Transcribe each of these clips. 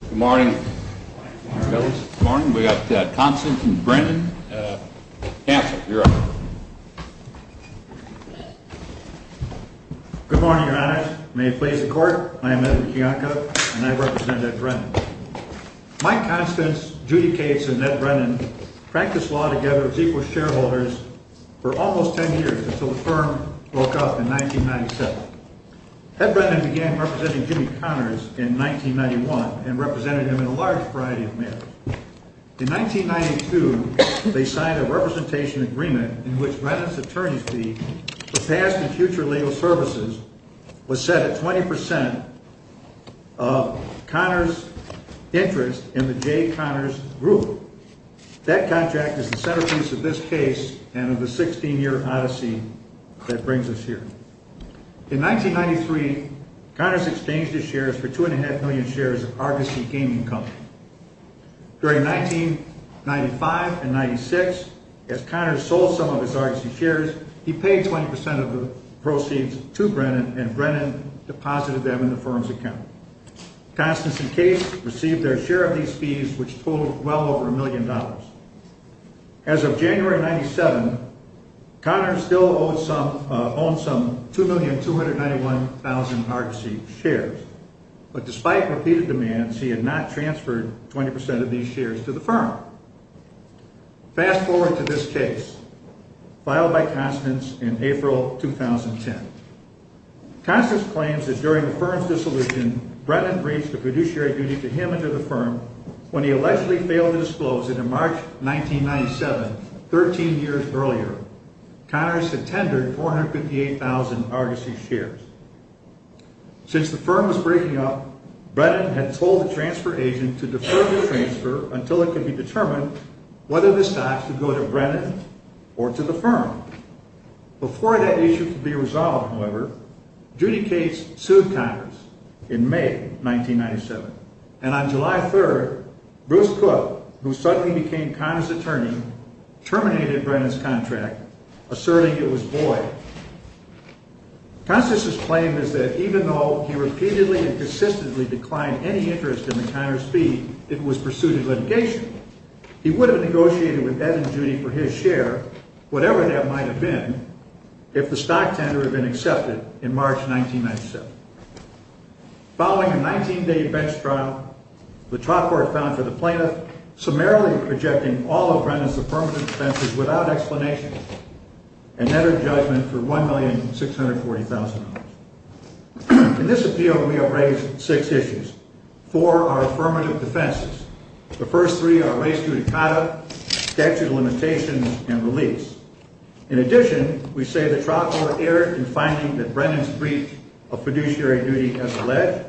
Good morning. We have Constance v. Brennan. Chancellor, you're up. Good morning, Your Honors. May it please the Court, I am Edward Kiyonko, and I represent Ed Brennan. Mike Constance, Judy Cates, and Ned Brennan practiced law together as equal shareholders for almost ten years until the firm broke up in 1997. Ed Brennan began representing Jimmy Connors in 1991 and represented him in a large variety of matters. In 1992, they signed a representation agreement in which Brennan's attorney's fee for past and future legal services was set at 20% of Connors' interest in the Jay Connors Group. That contract is the centerpiece of this case and of the 16-year odyssey that brings us here. In 1993, Connors exchanged his shares for 2.5 million shares of Argosy Gaming Company. During 1995 and 1996, as Connors sold some of his Argosy shares, he paid 20% of the proceeds to Brennan, and Brennan deposited them in the firm's account. Constance and Cates received their share of these fees, which totaled well over a million dollars. As of January 1997, Connors still owned some 2,291,000 Argosy shares, but despite repeated demands, he had not transferred 20% of these shares to the firm. Fast forward to this case, filed by Constance in April 2010. Constance claims that during the firm's dissolution, Brennan breached the fiduciary duty to him and to the firm when he allegedly failed to disclose it in March 1997, 13 years earlier. Connors had tendered 458,000 Argosy shares. Since the firm was breaking up, Brennan had told the transfer agent to defer the transfer until it could be determined whether the stocks would go to Brennan or to the firm. Before that issue could be resolved, however, Judy Cates sued Connors in May 1997, and on July 3rd, Bruce Cook, who suddenly became Connors' attorney, terminated Brennan's contract, asserting it was void. Constance's claim is that even though he repeatedly and consistently declined any interest in the Connors' fee, it was pursued in litigation. He would have negotiated with Ed and Judy for his share, whatever that might have been, if the stock tender had been accepted in March 1997. Following a 19-day bench trial, the trial court found for the plaintiff summarily rejecting all of Brennan's affirmative defenses without explanation and entered judgment for $1,640,000. In this appeal, we have raised six issues. Four are affirmative defenses. The first three are race to decada, statute of limitations, and release. In addition, we say the trial court erred in finding that Brennan's breach of fiduciary duty as alleged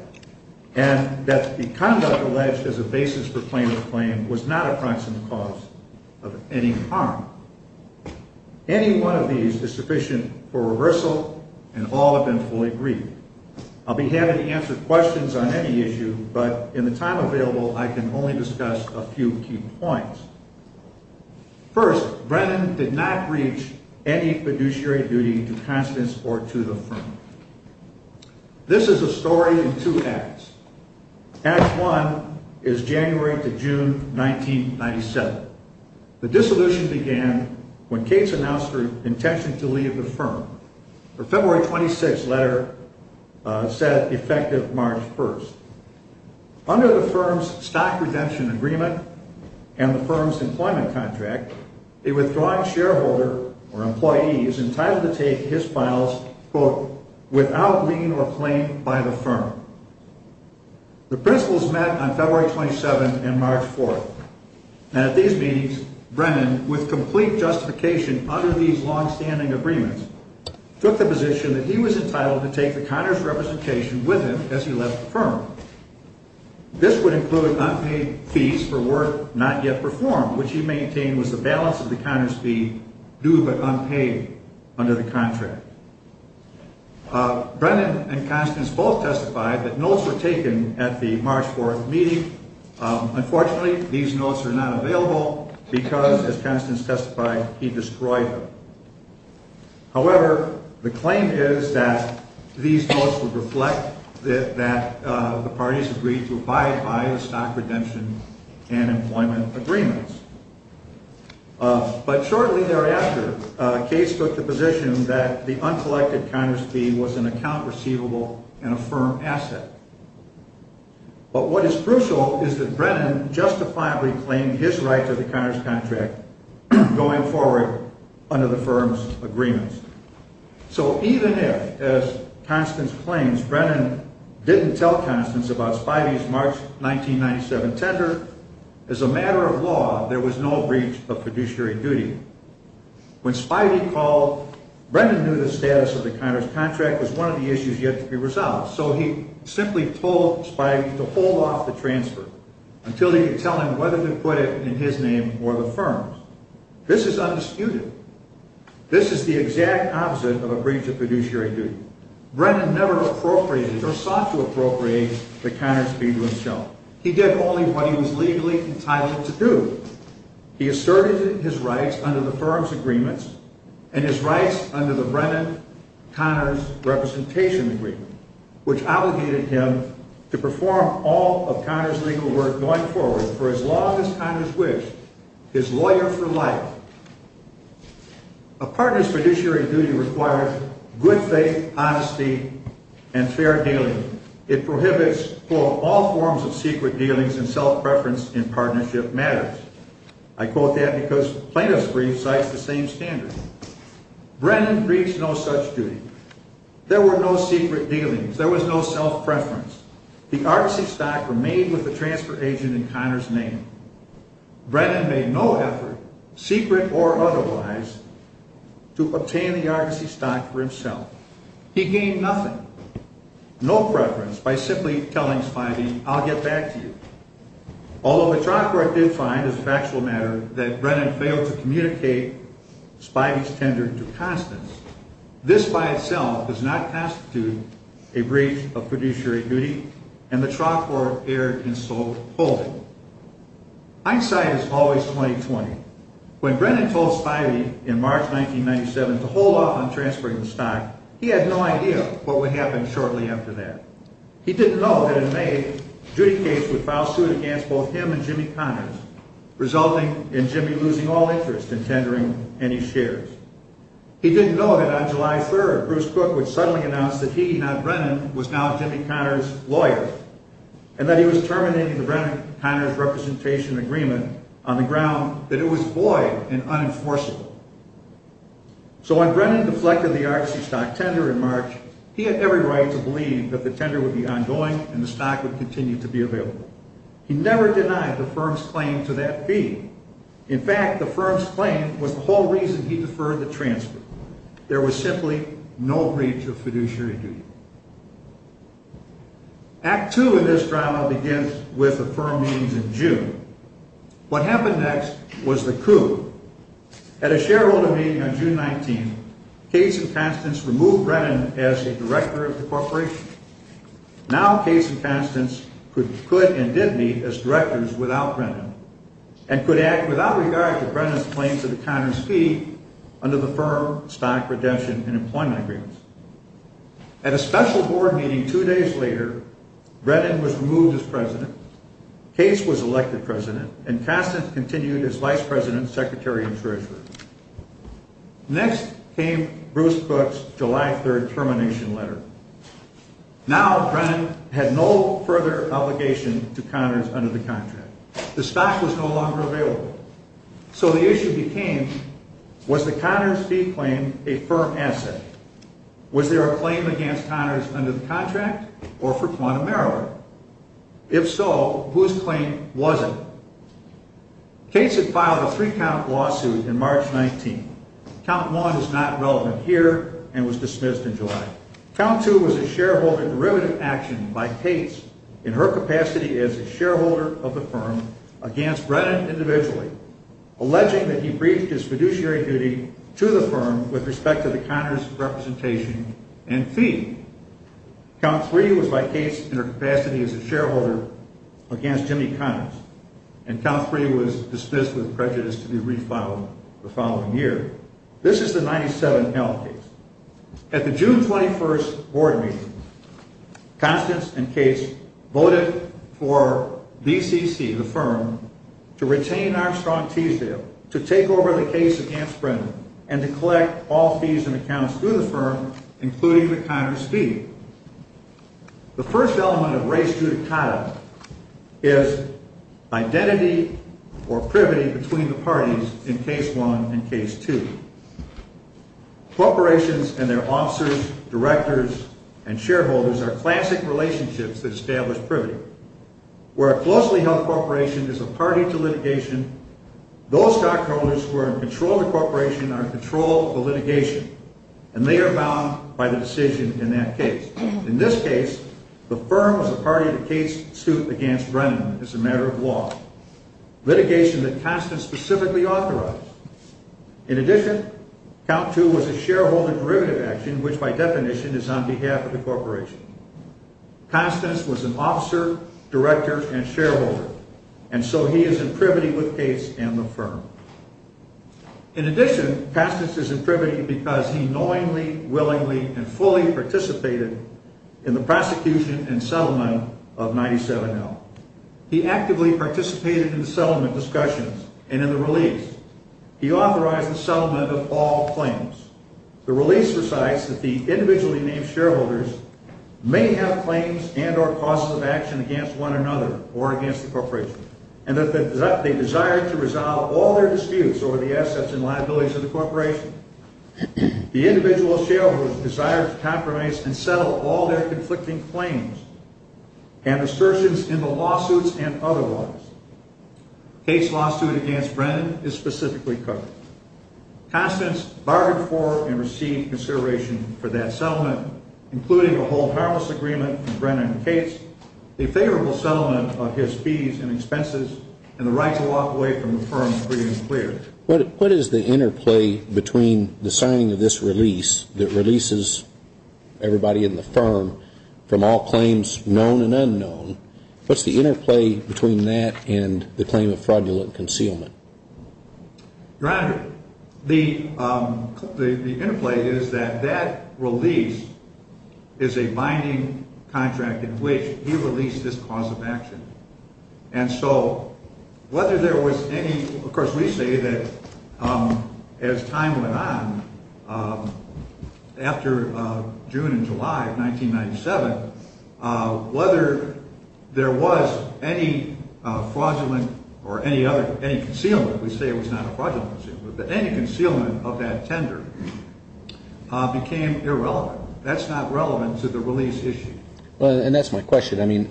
and that the conduct alleged as a basis for plaintiff's claim was not a proximate cause of any harm. Any one of these is sufficient for reversal, and all have been fully agreed. I'll be happy to answer questions on any issue, but in the time available, I can only discuss a few key points. First, Brennan did not breach any fiduciary duty to Constance or to the firm. This is a story in two acts. Act one is January to June 1997. The dissolution began when Cates announced her intention to leave the firm. Her February 26 letter said effective March 1. Under the firm's stock redemption agreement and the firm's employment contract, a withdrawing shareholder or employee is entitled to take his files, quote, without lien or claim by the firm. The principles met on February 27 and March 4. And at these meetings, Brennan, with complete justification under these longstanding agreements, took the position that he was entitled to take the connoisseur's representation with him as he left the firm. This would include unpaid fees for work not yet performed, which he maintained was the balance of the connoisseur's fee due but unpaid under the contract. Brennan and Constance both testified that notes were taken at the March 4 meeting. Unfortunately, these notes are not available because, as Constance testified, he destroyed them. However, the claim is that these notes would reflect that the parties agreed to abide by the stock redemption and employment agreements. But shortly thereafter, Cates took the position that the uncollected connoisseur's fee was an account receivable and a firm asset. But what is crucial is that Brennan justifiably claimed his right to the connoisseur's contract going forward under the firm's agreements. So even if, as Constance claims, Brennan didn't tell Constance about Spivey's March 1997 tender, as a matter of law, there was no breach of fiduciary duty. When Spivey called, Brennan knew the status of the connoisseur's contract was one of the issues yet to be resolved. So he simply told Spivey to hold off the transfer until he could tell him whether to put it in his name or the firm's. This is undisputed. This is the exact opposite of a breach of fiduciary duty. Brennan never appropriated or sought to appropriate the connoisseur's fee to himself. He did only what he was legally entitled to do. He asserted his rights under the firm's agreements and his rights under the Brennan-Connors representation agreement, which obligated him to perform all of Connors' legal work going forward for as long as Connors wished, his lawyer for life. A partner's fiduciary duty requires good faith, honesty, and fair dealing. It prohibits, quote, all forms of secret dealings and self-preference in partnership matters. I quote that because plaintiff's brief cites the same standard. Brennan reached no such duty. There were no secret dealings. There was no self-preference. The Argosy stock remained with the transfer agent in Connors' name. Brennan made no effort, secret or otherwise, to obtain the Argosy stock for himself. He gained nothing, no preference, by simply telling Spivey, I'll get back to you. Although the trial court did find as a factual matter that Brennan failed to communicate Spivey's tender to Constance, this by itself does not constitute a breach of fiduciary duty, and the trial court erred in so holding. Eyesight is always 20-20. When Brennan told Spivey in March 1997 to hold off on transferring the stock, he had no idea what would happen shortly after that. He didn't know that in May, Judy Cates would file suit against both him and Jimmy Connors, resulting in Jimmy losing all interest in tendering any shares. He didn't know that on July 3rd, Bruce Cook would suddenly announce that he, not Brennan, was now Jimmy Connors' lawyer, and that he was terminating the Brennan-Connors representation agreement on the ground that it was void and unenforceable. So when Brennan deflected the Argosy stock tender in March, he had every right to believe that the tender would be ongoing and the stock would continue to be available. He never denied the firm's claim to that fee. In fact, the firm's claim was the whole reason he deferred the transfer. There was simply no breach of fiduciary duty. Act II in this drama begins with the firm meetings in June. What happened next was the coup. At a shareholder meeting on June 19, Cates and Constance removed Brennan as the director of the corporation. Now Cates and Constance could and did meet as directors without Brennan and could act without regard to Brennan's claim to the Connors' fee under the firm, stock, redemption, and employment agreements. At a special board meeting two days later, Brennan was removed as president, Cates was elected president, and Constance continued as vice president, secretary, and treasurer. Next came Bruce Cook's July 3 termination letter. Now Brennan had no further obligation to Connors under the contract. The stock was no longer available. So the issue became, was the Connors' fee claim a firm asset? Was there a claim against Connors under the contract or for quantum error? If so, whose claim was it? Cates had filed a three-count lawsuit in March 19. Count 1 is not relevant here and was dismissed in July. Count 2 was a shareholder derivative action by Cates, in her capacity as a shareholder of the firm, against Brennan individually, alleging that he briefed his fiduciary duty to the firm with respect to the Connors' representation and fee. Count 3 was by Cates in her capacity as a shareholder against Jimmy Connors, and Count 3 was dismissed with prejudice to be refiled the following year. This is the 97-L case. At the June 21 board meeting, Constance and Cates voted for BCC, the firm, to retain Armstrong Teasdale, to take over the case against Brennan, and to collect all fees and accounts through the firm, including the Connors' fee. The first element of race judicata is identity or privity between the parties in case 1 and case 2. Corporations and their officers, directors, and shareholders are classic relationships that establish privity. Where a closely held corporation is a party to litigation, those stockholders who are in control of the corporation are in control of the litigation, and they are bound by the decision in that case. In this case, the firm was a party to Cates' suit against Brennan as a matter of law, litigation that Constance specifically authorized. In addition, Count 2 was a shareholder derivative action, which by definition is on behalf of the corporation. Constance was an officer, director, and shareholder, and so he is in privity with Cates and the firm. In addition, Constance is in privity because he knowingly, willingly, and fully participated in the prosecution and settlement of 97-L. He actively participated in the settlement discussions and in the release. He authorized the settlement of all claims. The release recites that the individually named shareholders may have claims and or causes of action against one another or against the corporation, and that they desire to resolve all their disputes over the assets and liabilities of the corporation. The individual shareholders desire to compromise and settle all their conflicting claims and assertions in the lawsuits and otherwise. Cates' lawsuit against Brennan is specifically covered. Constance bargained for and received consideration for that settlement, including a whole-house agreement with Brennan and Cates, a favorable settlement of his fees and expenses, and the right to walk away from the firm free and clear. What is the interplay between the signing of this release that releases everybody in the firm from all claims known and unknown? What's the interplay between that and the claim of fraudulent concealment? Your Honor, the interplay is that that release is a binding contract in which he released his cause of action. And so whether there was any, of course, we say that as time went on, after June and July of 1997, whether there was any fraudulent or any concealment, we say it was not a fraudulent concealment, but any concealment of that tender became irrelevant. That's not relevant to the release issue. And that's my question. I mean,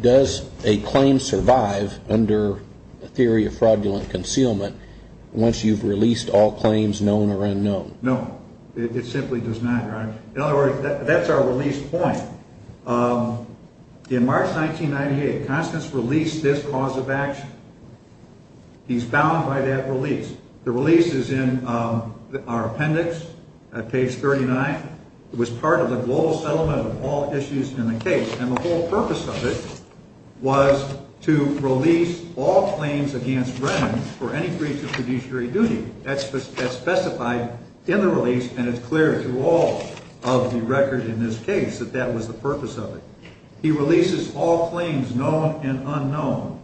does a claim survive under the theory of fraudulent concealment once you've released all claims known or unknown? No, it simply does not, Your Honor. In other words, that's our release point. In March 1998, Constance released this cause of action. He's bound by that release. The release is in our appendix at page 39. It was part of the global settlement of all issues in the case, and the whole purpose of it was to release all claims against Brennan for any breach of fiduciary duty. That's specified in the release, and it's clear to all of the record in this case that that was the purpose of it. He releases all claims known and unknown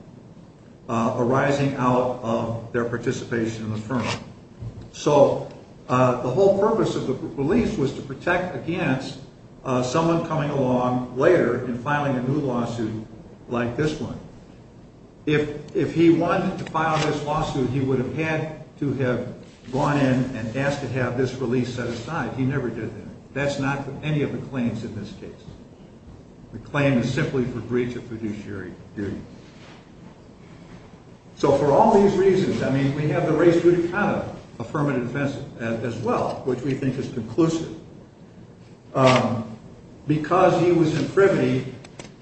arising out of their participation in the firm. So the whole purpose of the release was to protect against someone coming along later and filing a new lawsuit like this one. If he wanted to file this lawsuit, he would have had to have gone in and asked to have this release set aside. He never did that. That's not any of the claims in this case. The claim is simply for breach of fiduciary duty. So for all these reasons, I mean, we have the race-judicata affirmative defense as well, which we think is conclusive. Because he was in frivolity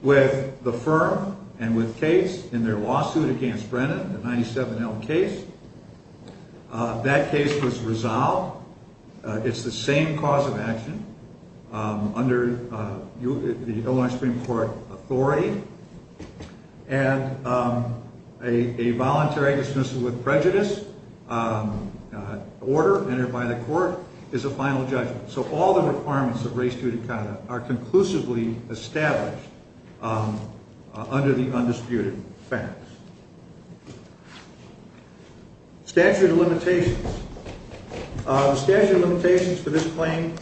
with the firm and with Cates in their lawsuit against Brennan, the 97L case, that case was resolved. It's the same cause of action under the Illinois Supreme Court authority. And a voluntary dismissal with prejudice order entered by the court is a final judgment. So all the requirements of race-judicata are conclusively established under the undisputed facts. Statute of limitations. The statute of limitations for this claim,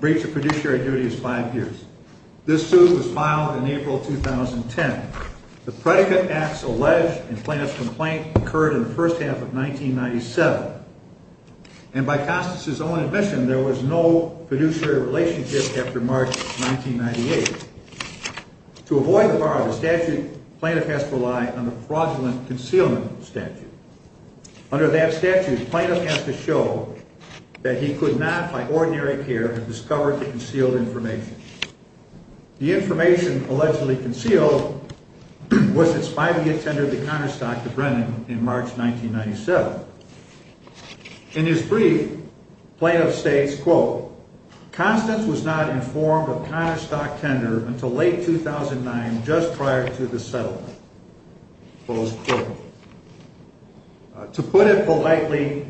breach of fiduciary duty, is five years. This suit was filed in April 2010. The predicate acts alleged in Plaintiff's complaint occurred in the first half of 1997. And by Constance's own admission, there was no fiduciary relationship after March 1998. To avoid the bar of the statute, Plaintiff has to rely on the fraudulent concealment statute. Under that statute, Plaintiff has to show that he could not, by ordinary care, have discovered the concealed information. The information allegedly concealed was that Spivey attended the counterstock to Brennan in March 1997. In his brief, Plaintiff states, quote, Constance was not informed of counterstock tender until late 2009, just prior to the settlement. Close quote. To put it politely,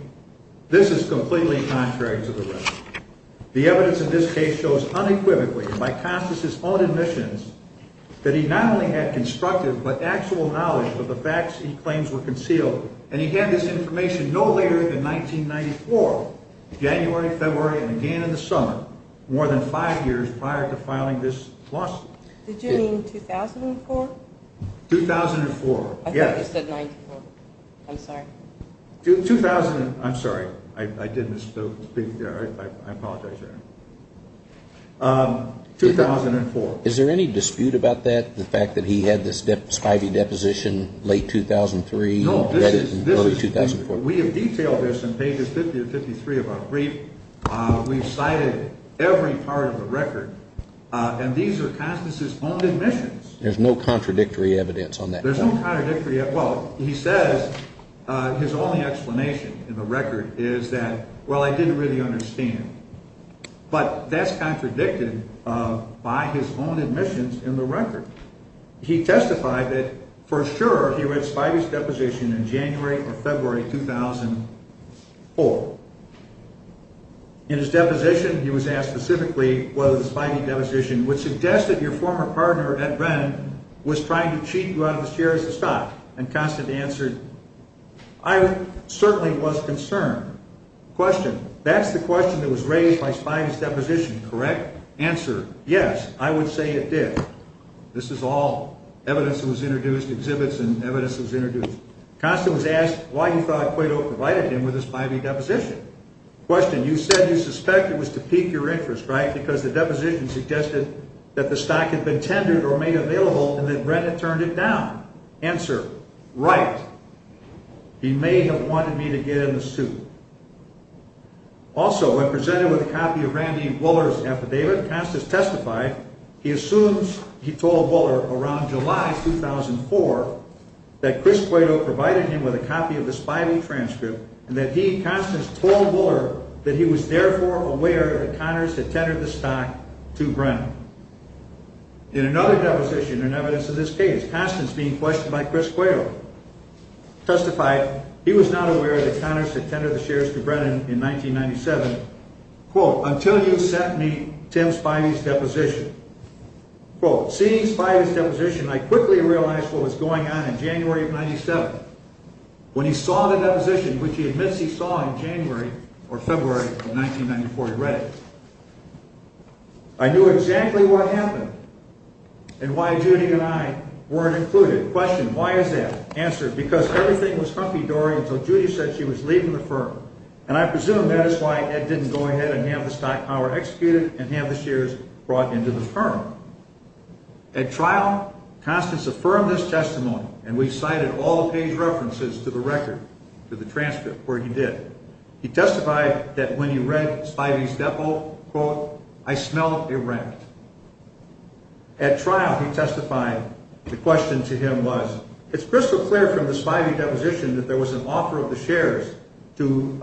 this is completely contrary to the rest. The evidence in this case shows unequivocally, by Constance's own admissions, that he not only had constructive but actual knowledge of the facts he claims were concealed, and he had this information no later than 1994, January, February, and again in the summer, more than five years prior to filing this lawsuit. Did you mean 2004? 2004, yes. I thought you said 1994. I'm sorry. 2000, I'm sorry. I did miss the speech there. I apologize there. 2004. Is there any dispute about that, the fact that he had this Spivey deposition late 2003? No, we have detailed this in pages 50 and 53 of our brief. We've cited every part of the record, and these are Constance's own admissions. There's no contradictory evidence on that? There's no contradictory evidence. Well, he says his only explanation in the record is that, well, I didn't really understand. But that's contradicted by his own admissions in the record. He testified that for sure he read Spivey's deposition in January or February 2004. In his deposition, he was asked specifically whether the Spivey deposition would suggest that your former partner, Ed Venn, was trying to cheat you out of the shares of stock, and Constance answered, I certainly was concerned. Question, that's the question that was raised by Spivey's deposition, correct? Answer, yes, I would say it did. This is all evidence that was introduced, exhibits and evidence that was introduced. Constance was asked why he thought Quaydoe provided him with a Spivey deposition. Question, you said you suspected it was to pique your interest, right, because the deposition suggested that the stock had been tendered or made available and that Venn had turned it down. Answer, right. He may have wanted me to get in the suit. Also, when presented with a copy of Randy Buller's affidavit, Constance testified he assumes he told Buller around July 2004 that Chris Quaydoe provided him with a copy of the Spivey transcript and that he, Constance, told Buller that he was therefore aware that Connors had tendered the stock to Venn. In another deposition and evidence of this case, Constance, being questioned by Chris Quaydoe, testified he was not aware that Connors had tendered the shares to Brennan in 1997, quote, until you sent me Tim Spivey's deposition. Quote, seeing Spivey's deposition, I quickly realized what was going on in January of 1997. When he saw the deposition, which he admits he saw in January or February of 1994, he read it, I knew exactly what happened and why Judy and I weren't included. The question, why is that? Answer, because everything was humpy-dory until Judy said she was leaving the firm, and I presume that is why Ed didn't go ahead and have the stock power executed and have the shares brought into the firm. At trial, Constance affirmed this testimony, and we've cited all the page references to the record, to the transcript, where he did. He testified that when he read Spivey's depo, quote, I smelled a rat. At trial, he testified the question to him was, it's crystal clear from the Spivey deposition that there was an offer of the shares to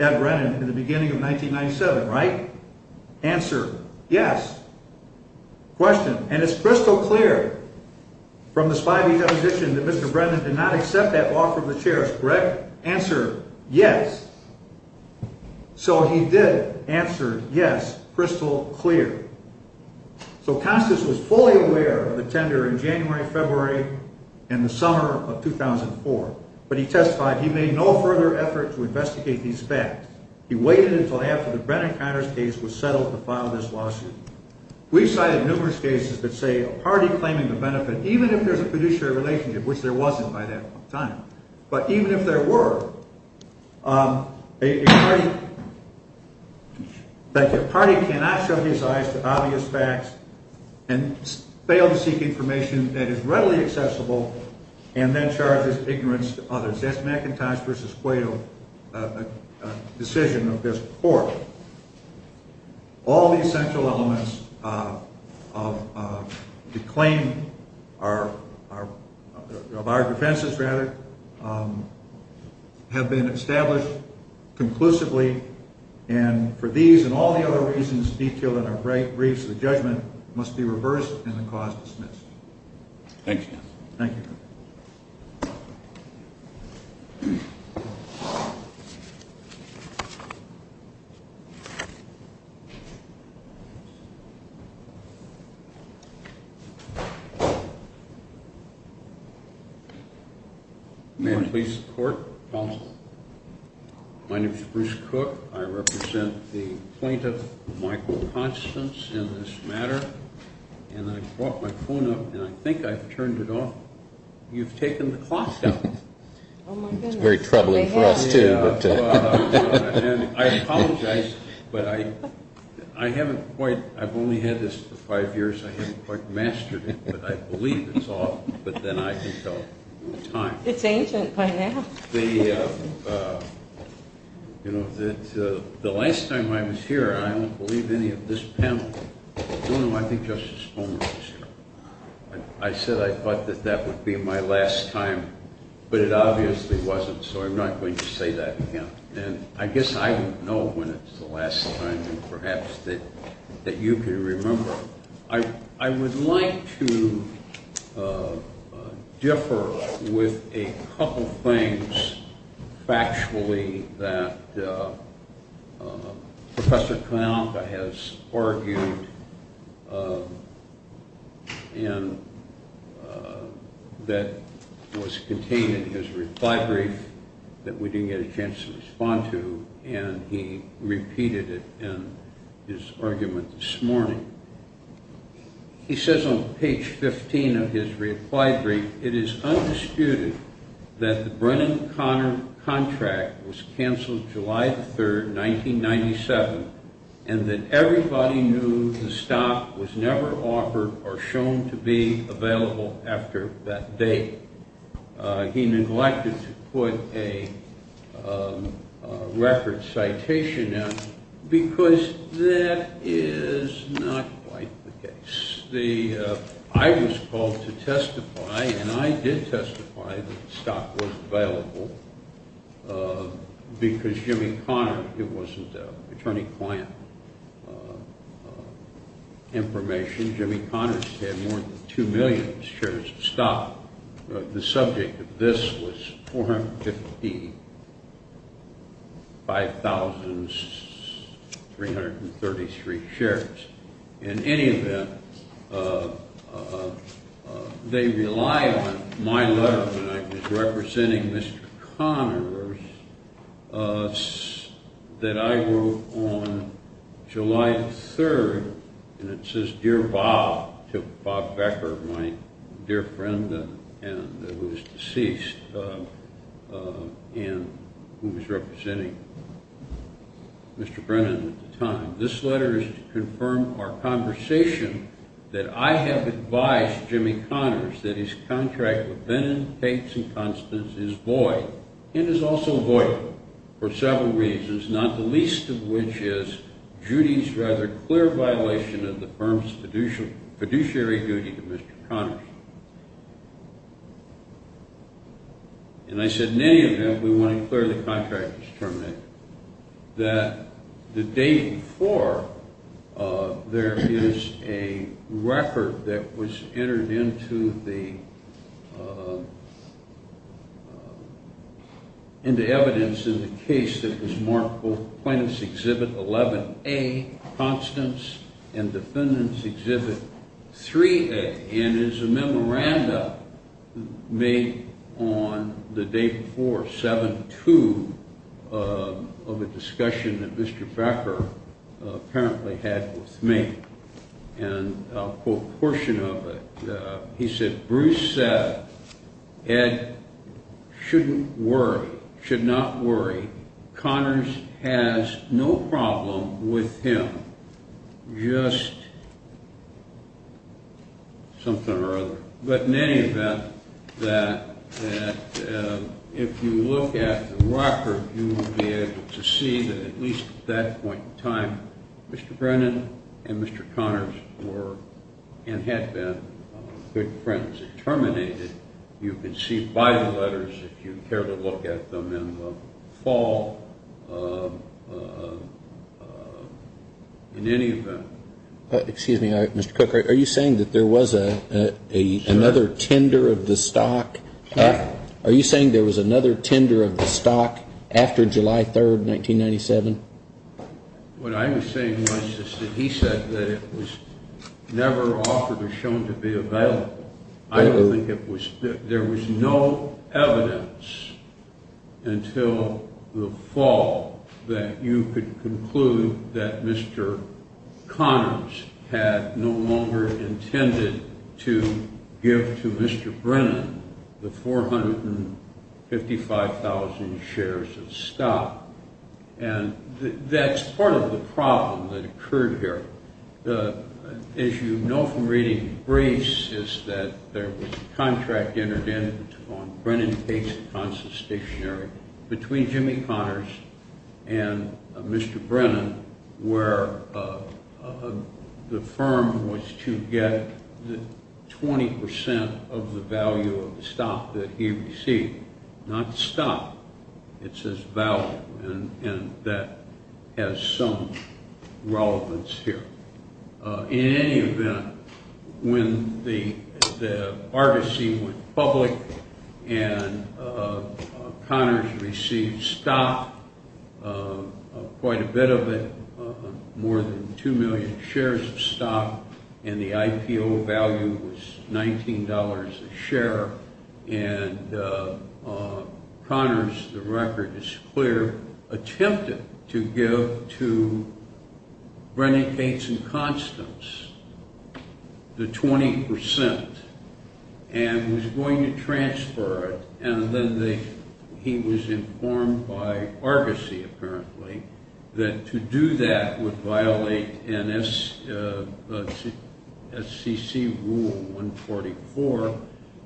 Ed Brennan in the beginning of 1997, right? Answer, yes. Question, and it's crystal clear from the Spivey deposition that Mr. Brennan did not accept that offer of the shares, correct? Answer, yes. So he did answer, yes, crystal clear. So Constance was fully aware of the tender in January, February, and the summer of 2004, but he testified he made no further effort to investigate these facts. He waited until after the Brennan-Connors case was settled to file this lawsuit. We've cited numerous cases that say a party claiming the benefit, even if there's a fiduciary relationship, which there wasn't by that time, but even if there were, a party cannot show his eyes to obvious facts and fail to seek information that is readily accessible and then charges ignorance to others. That's McIntosh v. Guado decision of this court. All the essential elements of the claim of our defenses, rather, have been established conclusively, and for these and all the other reasons detailed in our briefs, the judgment must be reversed and the cause dismissed. Thank you. Thank you. Thank you. May I please report? My name is Bruce Cook. I represent the plaintiff, Michael Constance, in this matter, and I brought my phone up, and I think I've turned it off. You've taken the clock down. Oh, my goodness. It's very troubling for us, too. I apologize, but I haven't quite. I've only had this for five years. I haven't quite mastered it, but I believe it's off, but then I can tell it in time. It's ancient by now. You know, the last time I was here, I don't believe any of this panel. No, no, I think Justice Foner was here. I said I thought that that would be my last time, but it obviously wasn't, so I'm not going to say that again, and I guess I don't know when it's the last time, and perhaps that you can remember. I would like to differ with a couple things, factually, that Professor Kanalka has argued that was contained in his reply brief that we didn't get a chance to respond to, and he repeated it in his argument this morning. He says on page 15 of his reply brief, it is undisputed that the Brennan-Connor contract was canceled July 3, 1997, and that everybody knew the stock was never offered or shown to be available after that date. He neglected to put a record citation in because that is not quite the case. I was called to testify, and I did testify that the stock was available because Jimmy Connor, it wasn't attorney-client information. Jimmy Connors had more than 2 million shares of stock. The subject of this was 450, 5,333 shares. In any event, they rely on my letter when I was representing Mr. Connors that I wrote on July 3rd, and it says, Dear Bob, to Bob Becker, my dear friend who was deceased and who was representing Mr. Brennan at the time, this letter is to confirm our conversation that I have advised Jimmy Connors that his contract with Brennan, Tate, and Constance is void, and is also void for several reasons, not the least of which is Judy's rather clear violation of the firm's fiduciary duty to Mr. Connors. And I said, in any event, we want to declare the contract as terminated, that the day before, there is a record that was entered into the evidence in the case that was marked both Plaintiff's Exhibit 11A, Constance, and Defendant's Exhibit 3A, and is a memorandum made on the day before, 7-2, of a discussion that Mr. Becker apparently had with me. And I'll quote a portion of it. He said, Bruce said, Ed shouldn't worry, should not worry. Connors has no problem with him, just something or other. But in any event, if you look at the record, you will be able to see that at least at that point in time, Mr. Brennan and Mr. Connors were, and had been, good friends. You can see by the letters, if you care to look at them in the fall, in any event. Excuse me, Mr. Cook, are you saying that there was another tender of the stock? Are you saying there was another tender of the stock after July 3rd, 1997? What I was saying was that he said that it was never offered or shown to be available. I don't think it was. There was no evidence until the fall that you could conclude that Mr. Connors had no longer intended to give to Mr. Brennan the 455,000 shares of stock. And that's part of the problem that occurred here. As you know from reading briefs, is that there was a contract entered in on Brennan-Case-Consol stationary between Jimmy Connors and Mr. Brennan, where the firm was to get 20% of the value of the stock that he received. Not stock, it says value, and that has some relevance here. In any event, when the Argosy went public and Connors received stock, quite a bit of it, more than 2 million shares of stock, and the IPO value was $19 a share, and Connors, the record is clear, attempted to give to Brennan-Case-Consol the 20%, and was going to transfer it, and then he was informed by Argosy, apparently, that to do that would violate SEC Rule 144,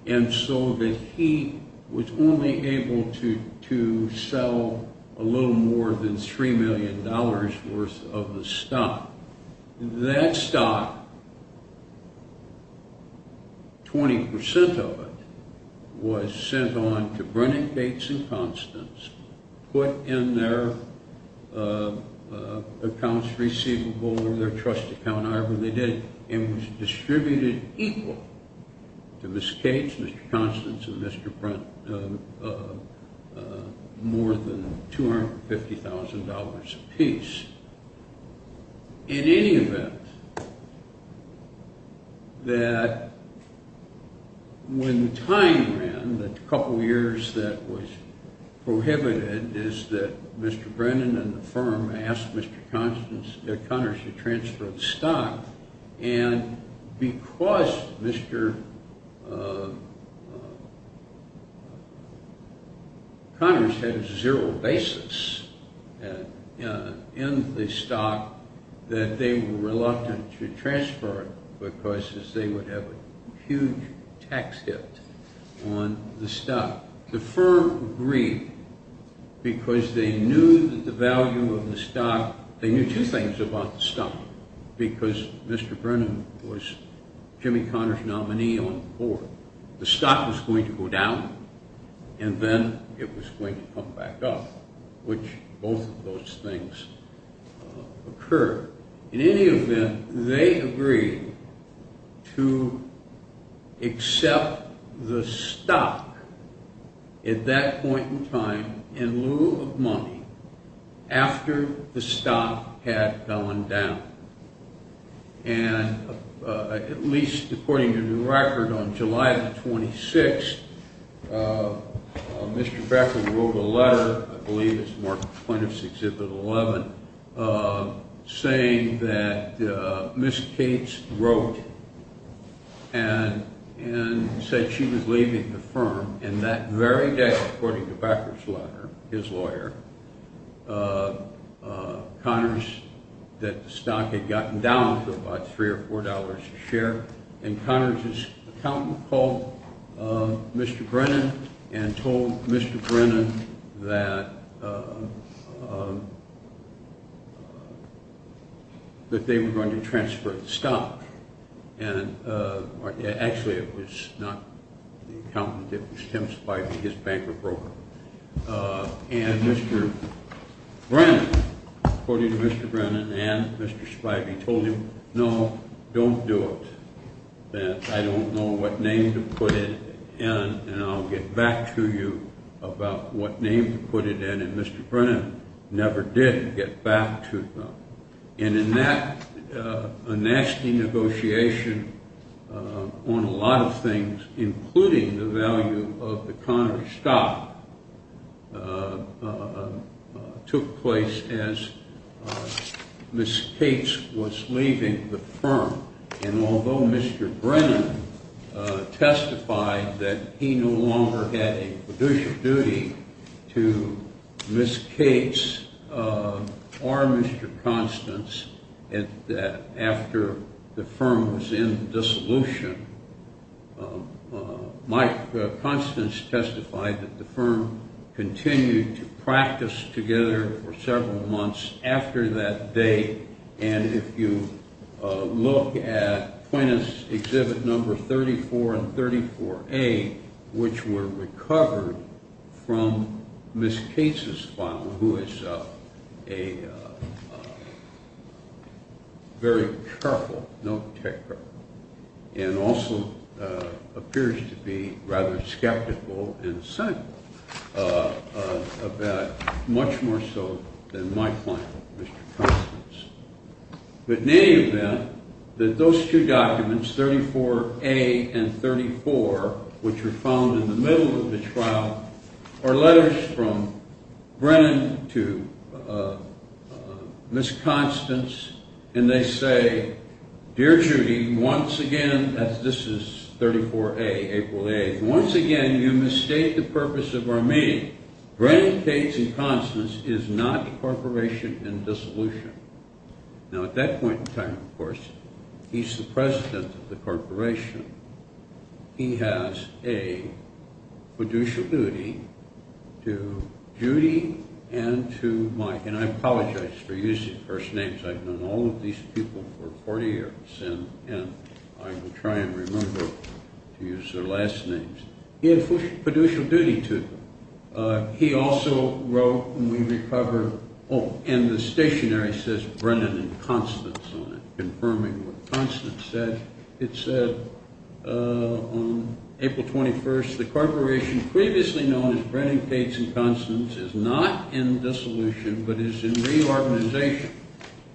and so that he was only able to sell a little more than $3 million worth of the stock. That stock, 20% of it, was sent on to Brennan-Case-Consol, put in their accounts receivable, or their trust account, however they did, and was distributed equal to Mr. Case, Mr. Consol, and Mr. Brent, more than $250,000 apiece. In any event, that when the time ran, the couple years that was prohibited, is that Mr. Brennan and the firm asked Mr. Connors to transfer the stock, and because Mr. Connors had a zero basis in the stock, that they were reluctant to transfer it, because they would have a huge tax hit on the stock. The firm agreed, because they knew that the value of the stock, they knew two things about the stock, because Mr. Brennan was Jimmy Connors' nominee on the board. The stock was going to go down, and then it was going to come back up, which both of those things occurred. In any event, they agreed to accept the stock at that point in time, in lieu of money, after the stock had gone down, and at least according to the record, on July the 26th, Mr. Becker wrote a letter, I believe it's Mark Plaintiff's Exhibit 11, saying that Miss Case wrote and said she was leaving the firm, and that very day, according to Becker's letter, his lawyer, Connors, that the stock had gotten down to about three or four dollars a share, and Connors' accountant called Mr. Brennan and told Mr. Brennan that they were going to transfer the stock. Actually, it was not the accountant, it was Tim Spivey, his banker broker. And Mr. Brennan, according to Mr. Brennan and Mr. Spivey, told him, no, don't do it, that I don't know what name to put it in, and I'll get back to you about what name to put it in, and Mr. Brennan never did get back to them. And in that, a nasty negotiation on a lot of things, including the value of the Connors' stock, took place as Miss Case was leaving the firm. And although Mr. Brennan testified that he no longer had a fiduciary duty to Miss Case or Mr. Constance after the firm was in dissolution, Constance testified that the firm continued to practice together for several months after that date, and if you look at plaintiffs' exhibit number 34 and 34A, which were recovered from Miss Case's file, who is a very careful notetaker and also appears to be rather skeptical and cynical about it, much more so than my client, Mr. Constance. But in any event, those two documents, 34A and 34, which were found in the middle of the trial, are letters from Brennan to Miss Constance, and they say, Dear Judy, once again, this is 34A, April 8th, Once again, you misstate the purpose of our meeting. Brennan, Case, and Constance is not a corporation in dissolution. Now, at that point in time, of course, he's the president of the corporation. He has a fiduciary duty to Judy and to Mike, and I apologize for using first names. I've known all of these people for 40 years, and I will try and remember to use their last names. He had fiduciary duty to them. He also wrote when we recovered, oh, and the stationery says Brennan and Constance on it, confirming what Constance said. It said on April 21st, the corporation previously known as Brennan, Case, and Constance is not in dissolution, but is in reorganization.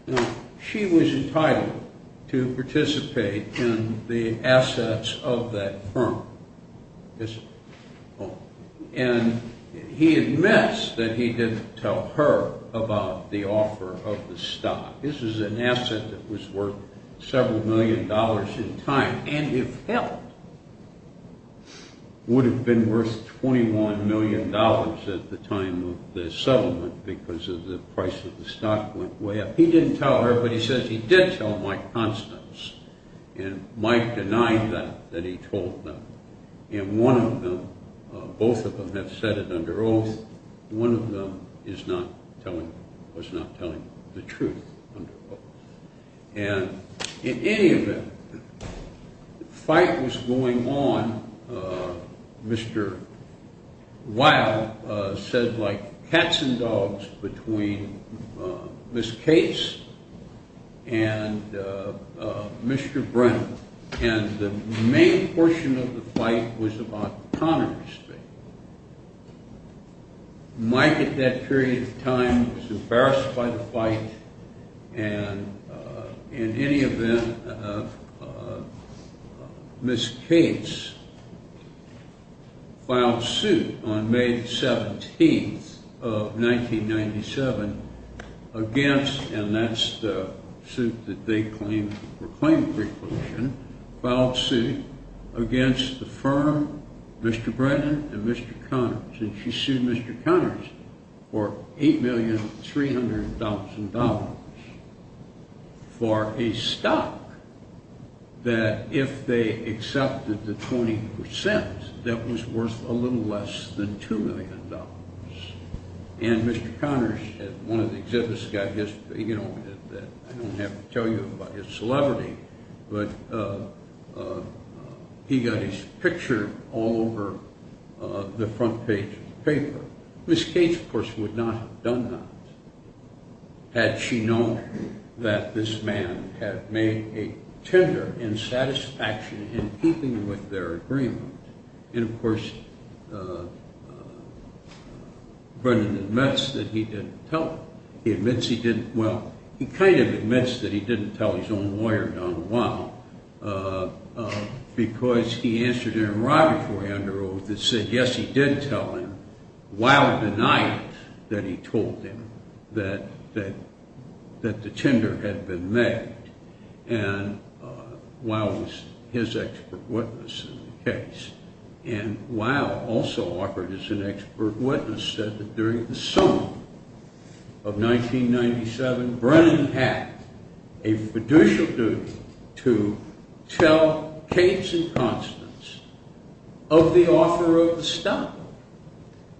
Now, she was entitled to participate in the assets of that firm. And he admits that he didn't tell her about the offer of the stock. This is an asset that was worth several million dollars in time, and if held, would have been worth $21 million at the time of the settlement because of the price of the stock went way up. He didn't tell her, but he says he did tell Mike Constance. And Mike denied that, that he told them. And one of them, both of them have said it under oath. One of them is not telling, was not telling the truth under oath. And in any event, the fight was going on. Mr. Weil said like cats and dogs between Miss Case and Mr. Brennan, and the main portion of the fight was about Conner's fate. Mike, at that period of time, was embarrassed by the fight, and in any event, Miss Case filed suit on May 17th of 1997 against, and that's the suit that they claimed for claim of reclusion, filed suit against the firm, Mr. Brennan and Mr. Conner, and she sued Mr. Conner for $8,300,000 for a stock that if they accepted the 20%, that was worth a little less than $2 million. And Mr. Conner at one of the exhibits got his, you know, I don't have to tell you about his celebrity, but he got his picture all over the front page of the paper. Miss Case, of course, would not have done that, had she known that this man had made a tender in satisfaction in keeping with their agreement. And, of course, Brennan admits that he didn't tell. He admits he didn't, well, he kind of admits that he didn't tell his own lawyer, Don Weil, because he answered an enrollment for him under oath that said, yes, he did tell him. Weil denied that he told him that the tender had been made, and Weil was his expert witness in the case. And Weil, also offered as an expert witness, said that during the summer of 1997, Brennan had a fiducial duty to tell Case and Constance of the offer of the stock.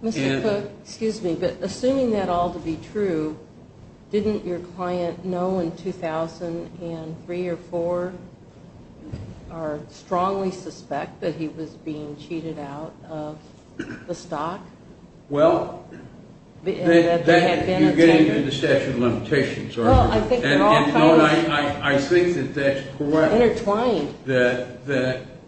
Mr. Cook, excuse me, but assuming that all to be true, didn't your client know in 2003 or 2004, or strongly suspect that he was being cheated out of the stock? Well, you're getting into the statute of limitations, aren't you? Well, I think they're all kind of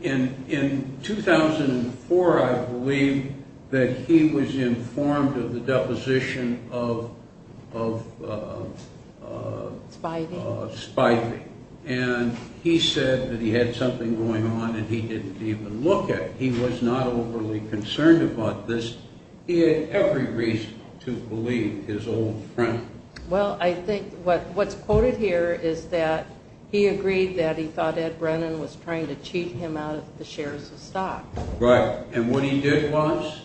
intertwined. In 2004, I believe that he was informed of the deposition of Spivey, and he said that he had something going on and he didn't even look at it. He was not overly concerned about this. He had every reason to believe his old friend. Well, I think what's quoted here is that he agreed that he thought Ed Brennan was trying to cheat him out of the shares of stock. Right. And what he did was,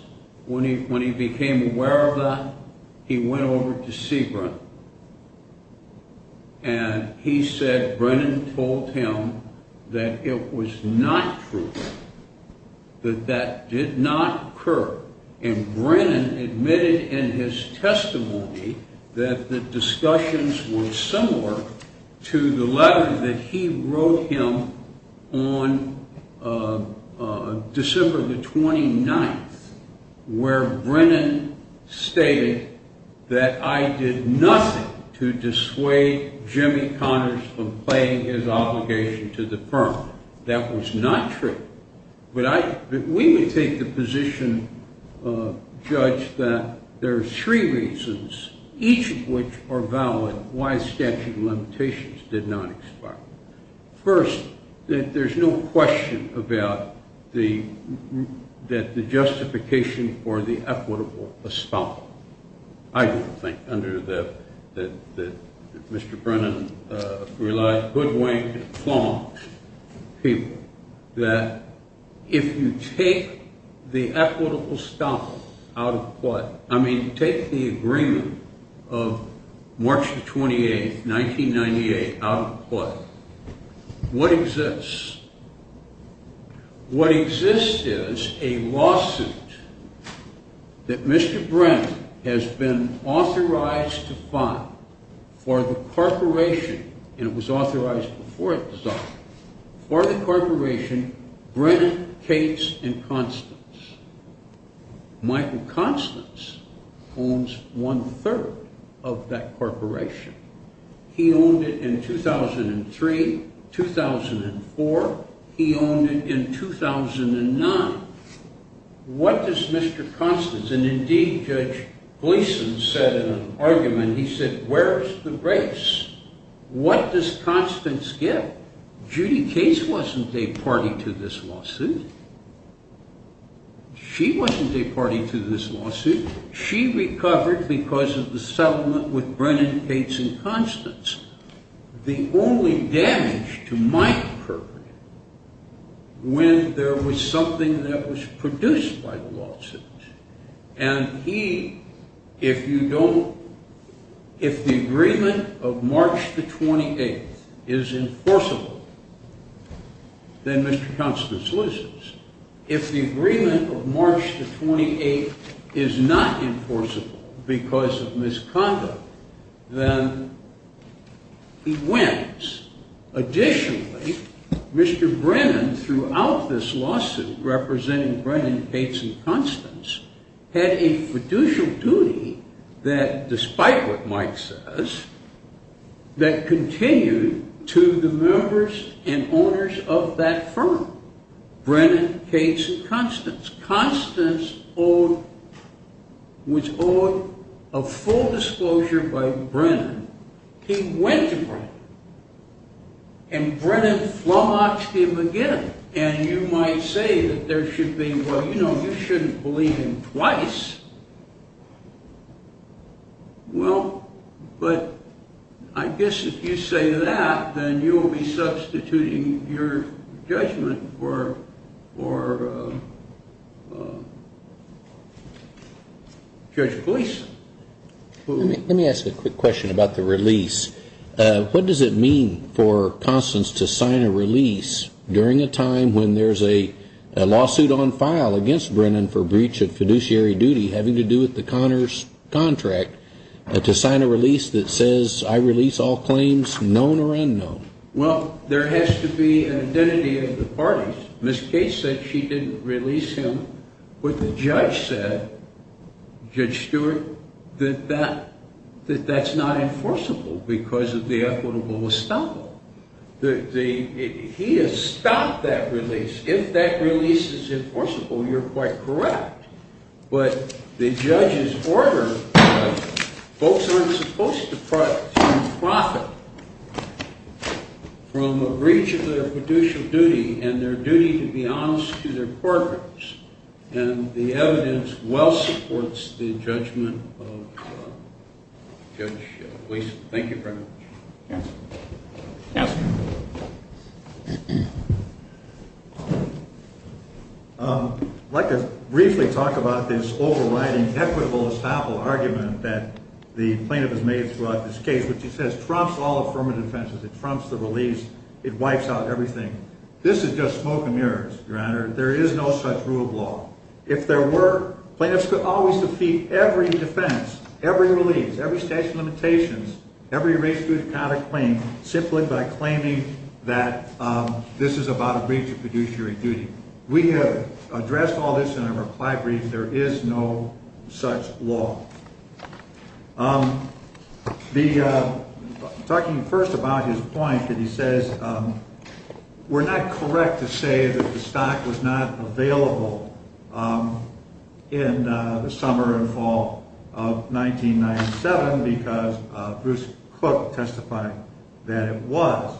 when he became aware of that, he went over to see Brennan. And he said Brennan told him that it was not true, that that did not occur. And Brennan admitted in his testimony that the discussions were similar to the letter that he wrote him on December the 29th, where Brennan stated that I did nothing to dissuade Jimmy Connors from playing his obligation to the firm. That was not true. We would take the position, Judge, that there are three reasons, each of which are valid, why statute of limitations did not expire. First, that there's no question about the justification for the equitable espionage. I don't think, under the, that Mr. Brennan relies, good way to plumb people, that if you take the equitable stock out of play, I mean, take the agreement of March the 28th, 1998, out of play, what exists? What exists is a lawsuit that Mr. Brennan has been authorized to file for the corporation, and it was authorized before it was filed, for the corporation Brennan, Cates, and Constance. Michael Constance owns one-third of that corporation. He owned it in 2003, 2004, he owned it in 2009. What does Mr. Constance, and indeed Judge Gleason said in an argument, he said, where's the grace? What does Constance get? Judy Cates wasn't a party to this lawsuit. She wasn't a party to this lawsuit. She recovered because of the settlement with Brennan, Cates, and Constance. The only damage to my corporation, when there was something that was produced by the lawsuit, and he, if you don't, if the agreement of March the 28th is enforceable, then Mr. Constance loses. If the agreement of March the 28th is not enforceable because of misconduct, then he wins. Additionally, Mr. Brennan, throughout this lawsuit, representing Brennan, Cates, and Constance, had a fiducial duty that, despite what Mike says, that continued to the members and owners of that firm, Brennan, Cates, and Constance. Constance was owed a full disclosure by Brennan. He went to Brennan. And Brennan flogged him again. And you might say that there should be, well, you know, you shouldn't believe him twice. Well, but I guess if you say that, then you will be substituting your judgment for Judge Gleason. Let me ask a quick question about the release. What does it mean for Constance to sign a release during a time when there's a lawsuit on file against Brennan for breach of fiduciary duty having to do with the Connors contract, to sign a release that says I release all claims known or unknown? Well, there has to be an identity of the parties. Ms. Cates said she didn't release him, but the judge said, Judge Stewart, that that's not enforceable because of the equitable estoppel. He has stopped that release. If that release is enforceable, you're quite correct. But the judge's order, folks aren't supposed to profit from a breach of their fiduciary duty and their duty to be honest to their courtrooms. And the evidence well supports the judgment of Judge Gleason. Thank you very much. Counsel. I'd like to briefly talk about this overriding equitable estoppel argument that the plaintiff has made throughout this case, which he says trumps all affirmative defenses. It trumps the release. It wipes out everything. This is just smoke and mirrors, Your Honor. There is no such rule of law. If there were, plaintiffs could always defeat every defense, every release, every statute of limitations, every race-based counterclaim simply by claiming that this is about a breach of fiduciary duty. We have addressed all this in our reply brief. There is no such law. Talking first about his point that he says we're not correct to say that the stock was not available in the summer and fall of 1997 because Bruce Cook testified that it was.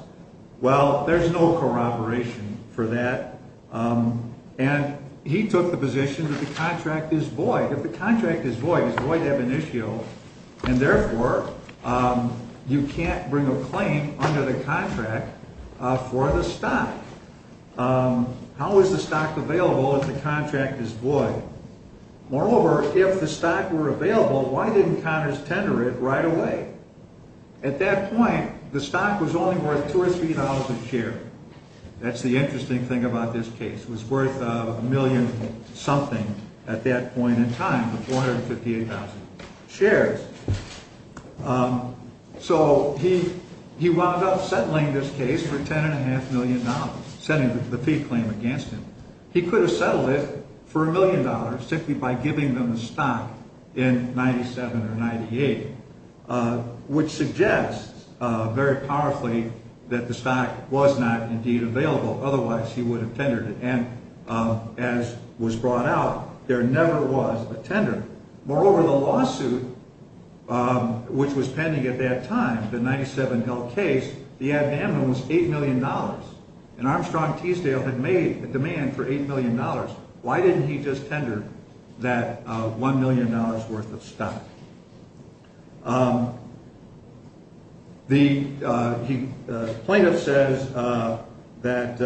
Well, there's no corroboration for that. And he took the position that the contract is void. If the contract is void, it's void ab initio, and therefore you can't bring a claim under the contract for the stock. How is the stock available if the contract is void? Moreover, if the stock were available, why didn't Congress tender it right away? At that point, the stock was only worth $2,000 or $3,000 a share. That's the interesting thing about this case. It was worth a million-something at that point in time, the 458,000 shares. So he wound up settling this case for $10.5 million, setting the fee claim against him. He could have settled it for $1 million simply by giving them the stock in 97 or 98, which suggests very powerfully that the stock was not indeed available. Otherwise, he would have tendered it. And as was brought out, there never was a tender. Moreover, the lawsuit which was pending at that time, the 97 Hill case, the ad amnum was $8 million. And Armstrong Teasdale had made a demand for $8 million. Why didn't he just tender that $1 million worth of stock? The plaintiff says that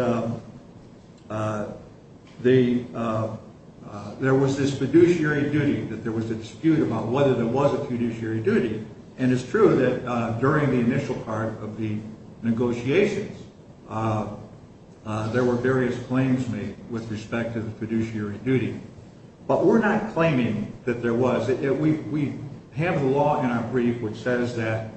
there was this fiduciary duty, that there was a dispute about whether there was a fiduciary duty. And it's true that during the initial part of the negotiations, there were various claims made with respect to the fiduciary duty. But we're not claiming that there was. We have the law in our brief which says that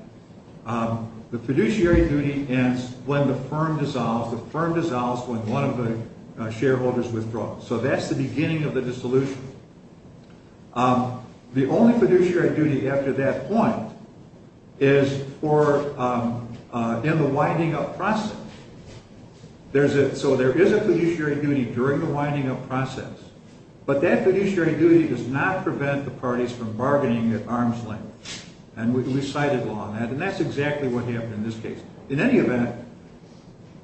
the fiduciary duty ends when the firm dissolves. The firm dissolves when one of the shareholders withdraws. So that's the beginning of the dissolution. The only fiduciary duty after that point is in the winding up process. So there is a fiduciary duty during the winding up process. But that fiduciary duty does not prevent the parties from bargaining at arm's length. And we cited law on that. And that's exactly what happened in this case. In any event,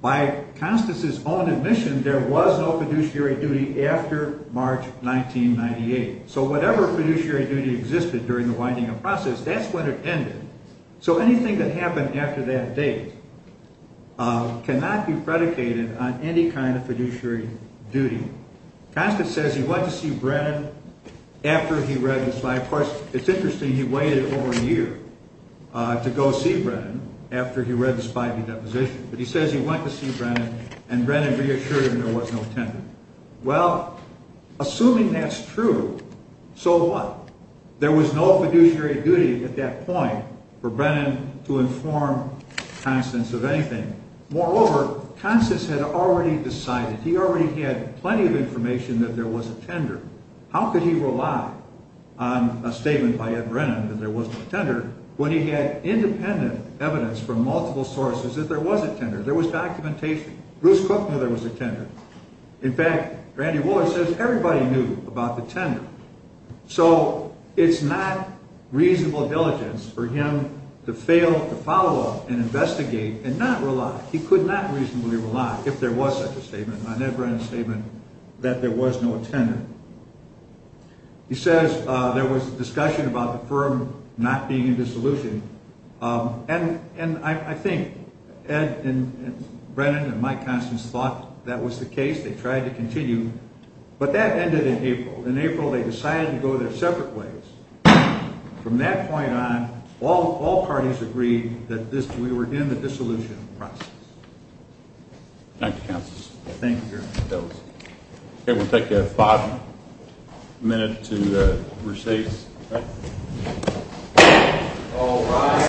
by Constance's own admission, there was no fiduciary duty after March 1998. So whatever fiduciary duty existed during the winding up process, that's when it ended. So anything that happened after that date cannot be predicated on any kind of fiduciary duty. Constance says he went to see Brennan after he read the slide. Of course, it's interesting he waited over a year to go see Brennan after he read the Spivey deposition. But he says he went to see Brennan and Brennan reassured him there was no tender. Well, assuming that's true, so what? There was no fiduciary duty at that point for Brennan to inform Constance of anything. Moreover, Constance had already decided. He already had plenty of information that there was a tender. How could he rely on a statement by Ed Brennan that there was no tender when he had independent evidence from multiple sources that there was a tender? There was documentation. Bruce Cook knew there was a tender. In fact, Randy Woolard says everybody knew about the tender. So it's not reasonable diligence for him to fail to follow up and investigate and not rely. If there was such a statement on Ed Brennan's statement that there was no tender. He says there was discussion about the firm not being in dissolution. And I think Ed and Brennan and Mike Constance thought that was the case. They tried to continue. But that ended in April. In April, they decided to go their separate ways. From that point on, all parties agreed that we were in the dissolution process. Thank you, Counsel. Thank you, Your Honor. That was it. Okay, we'll take a five-minute recess. All rise.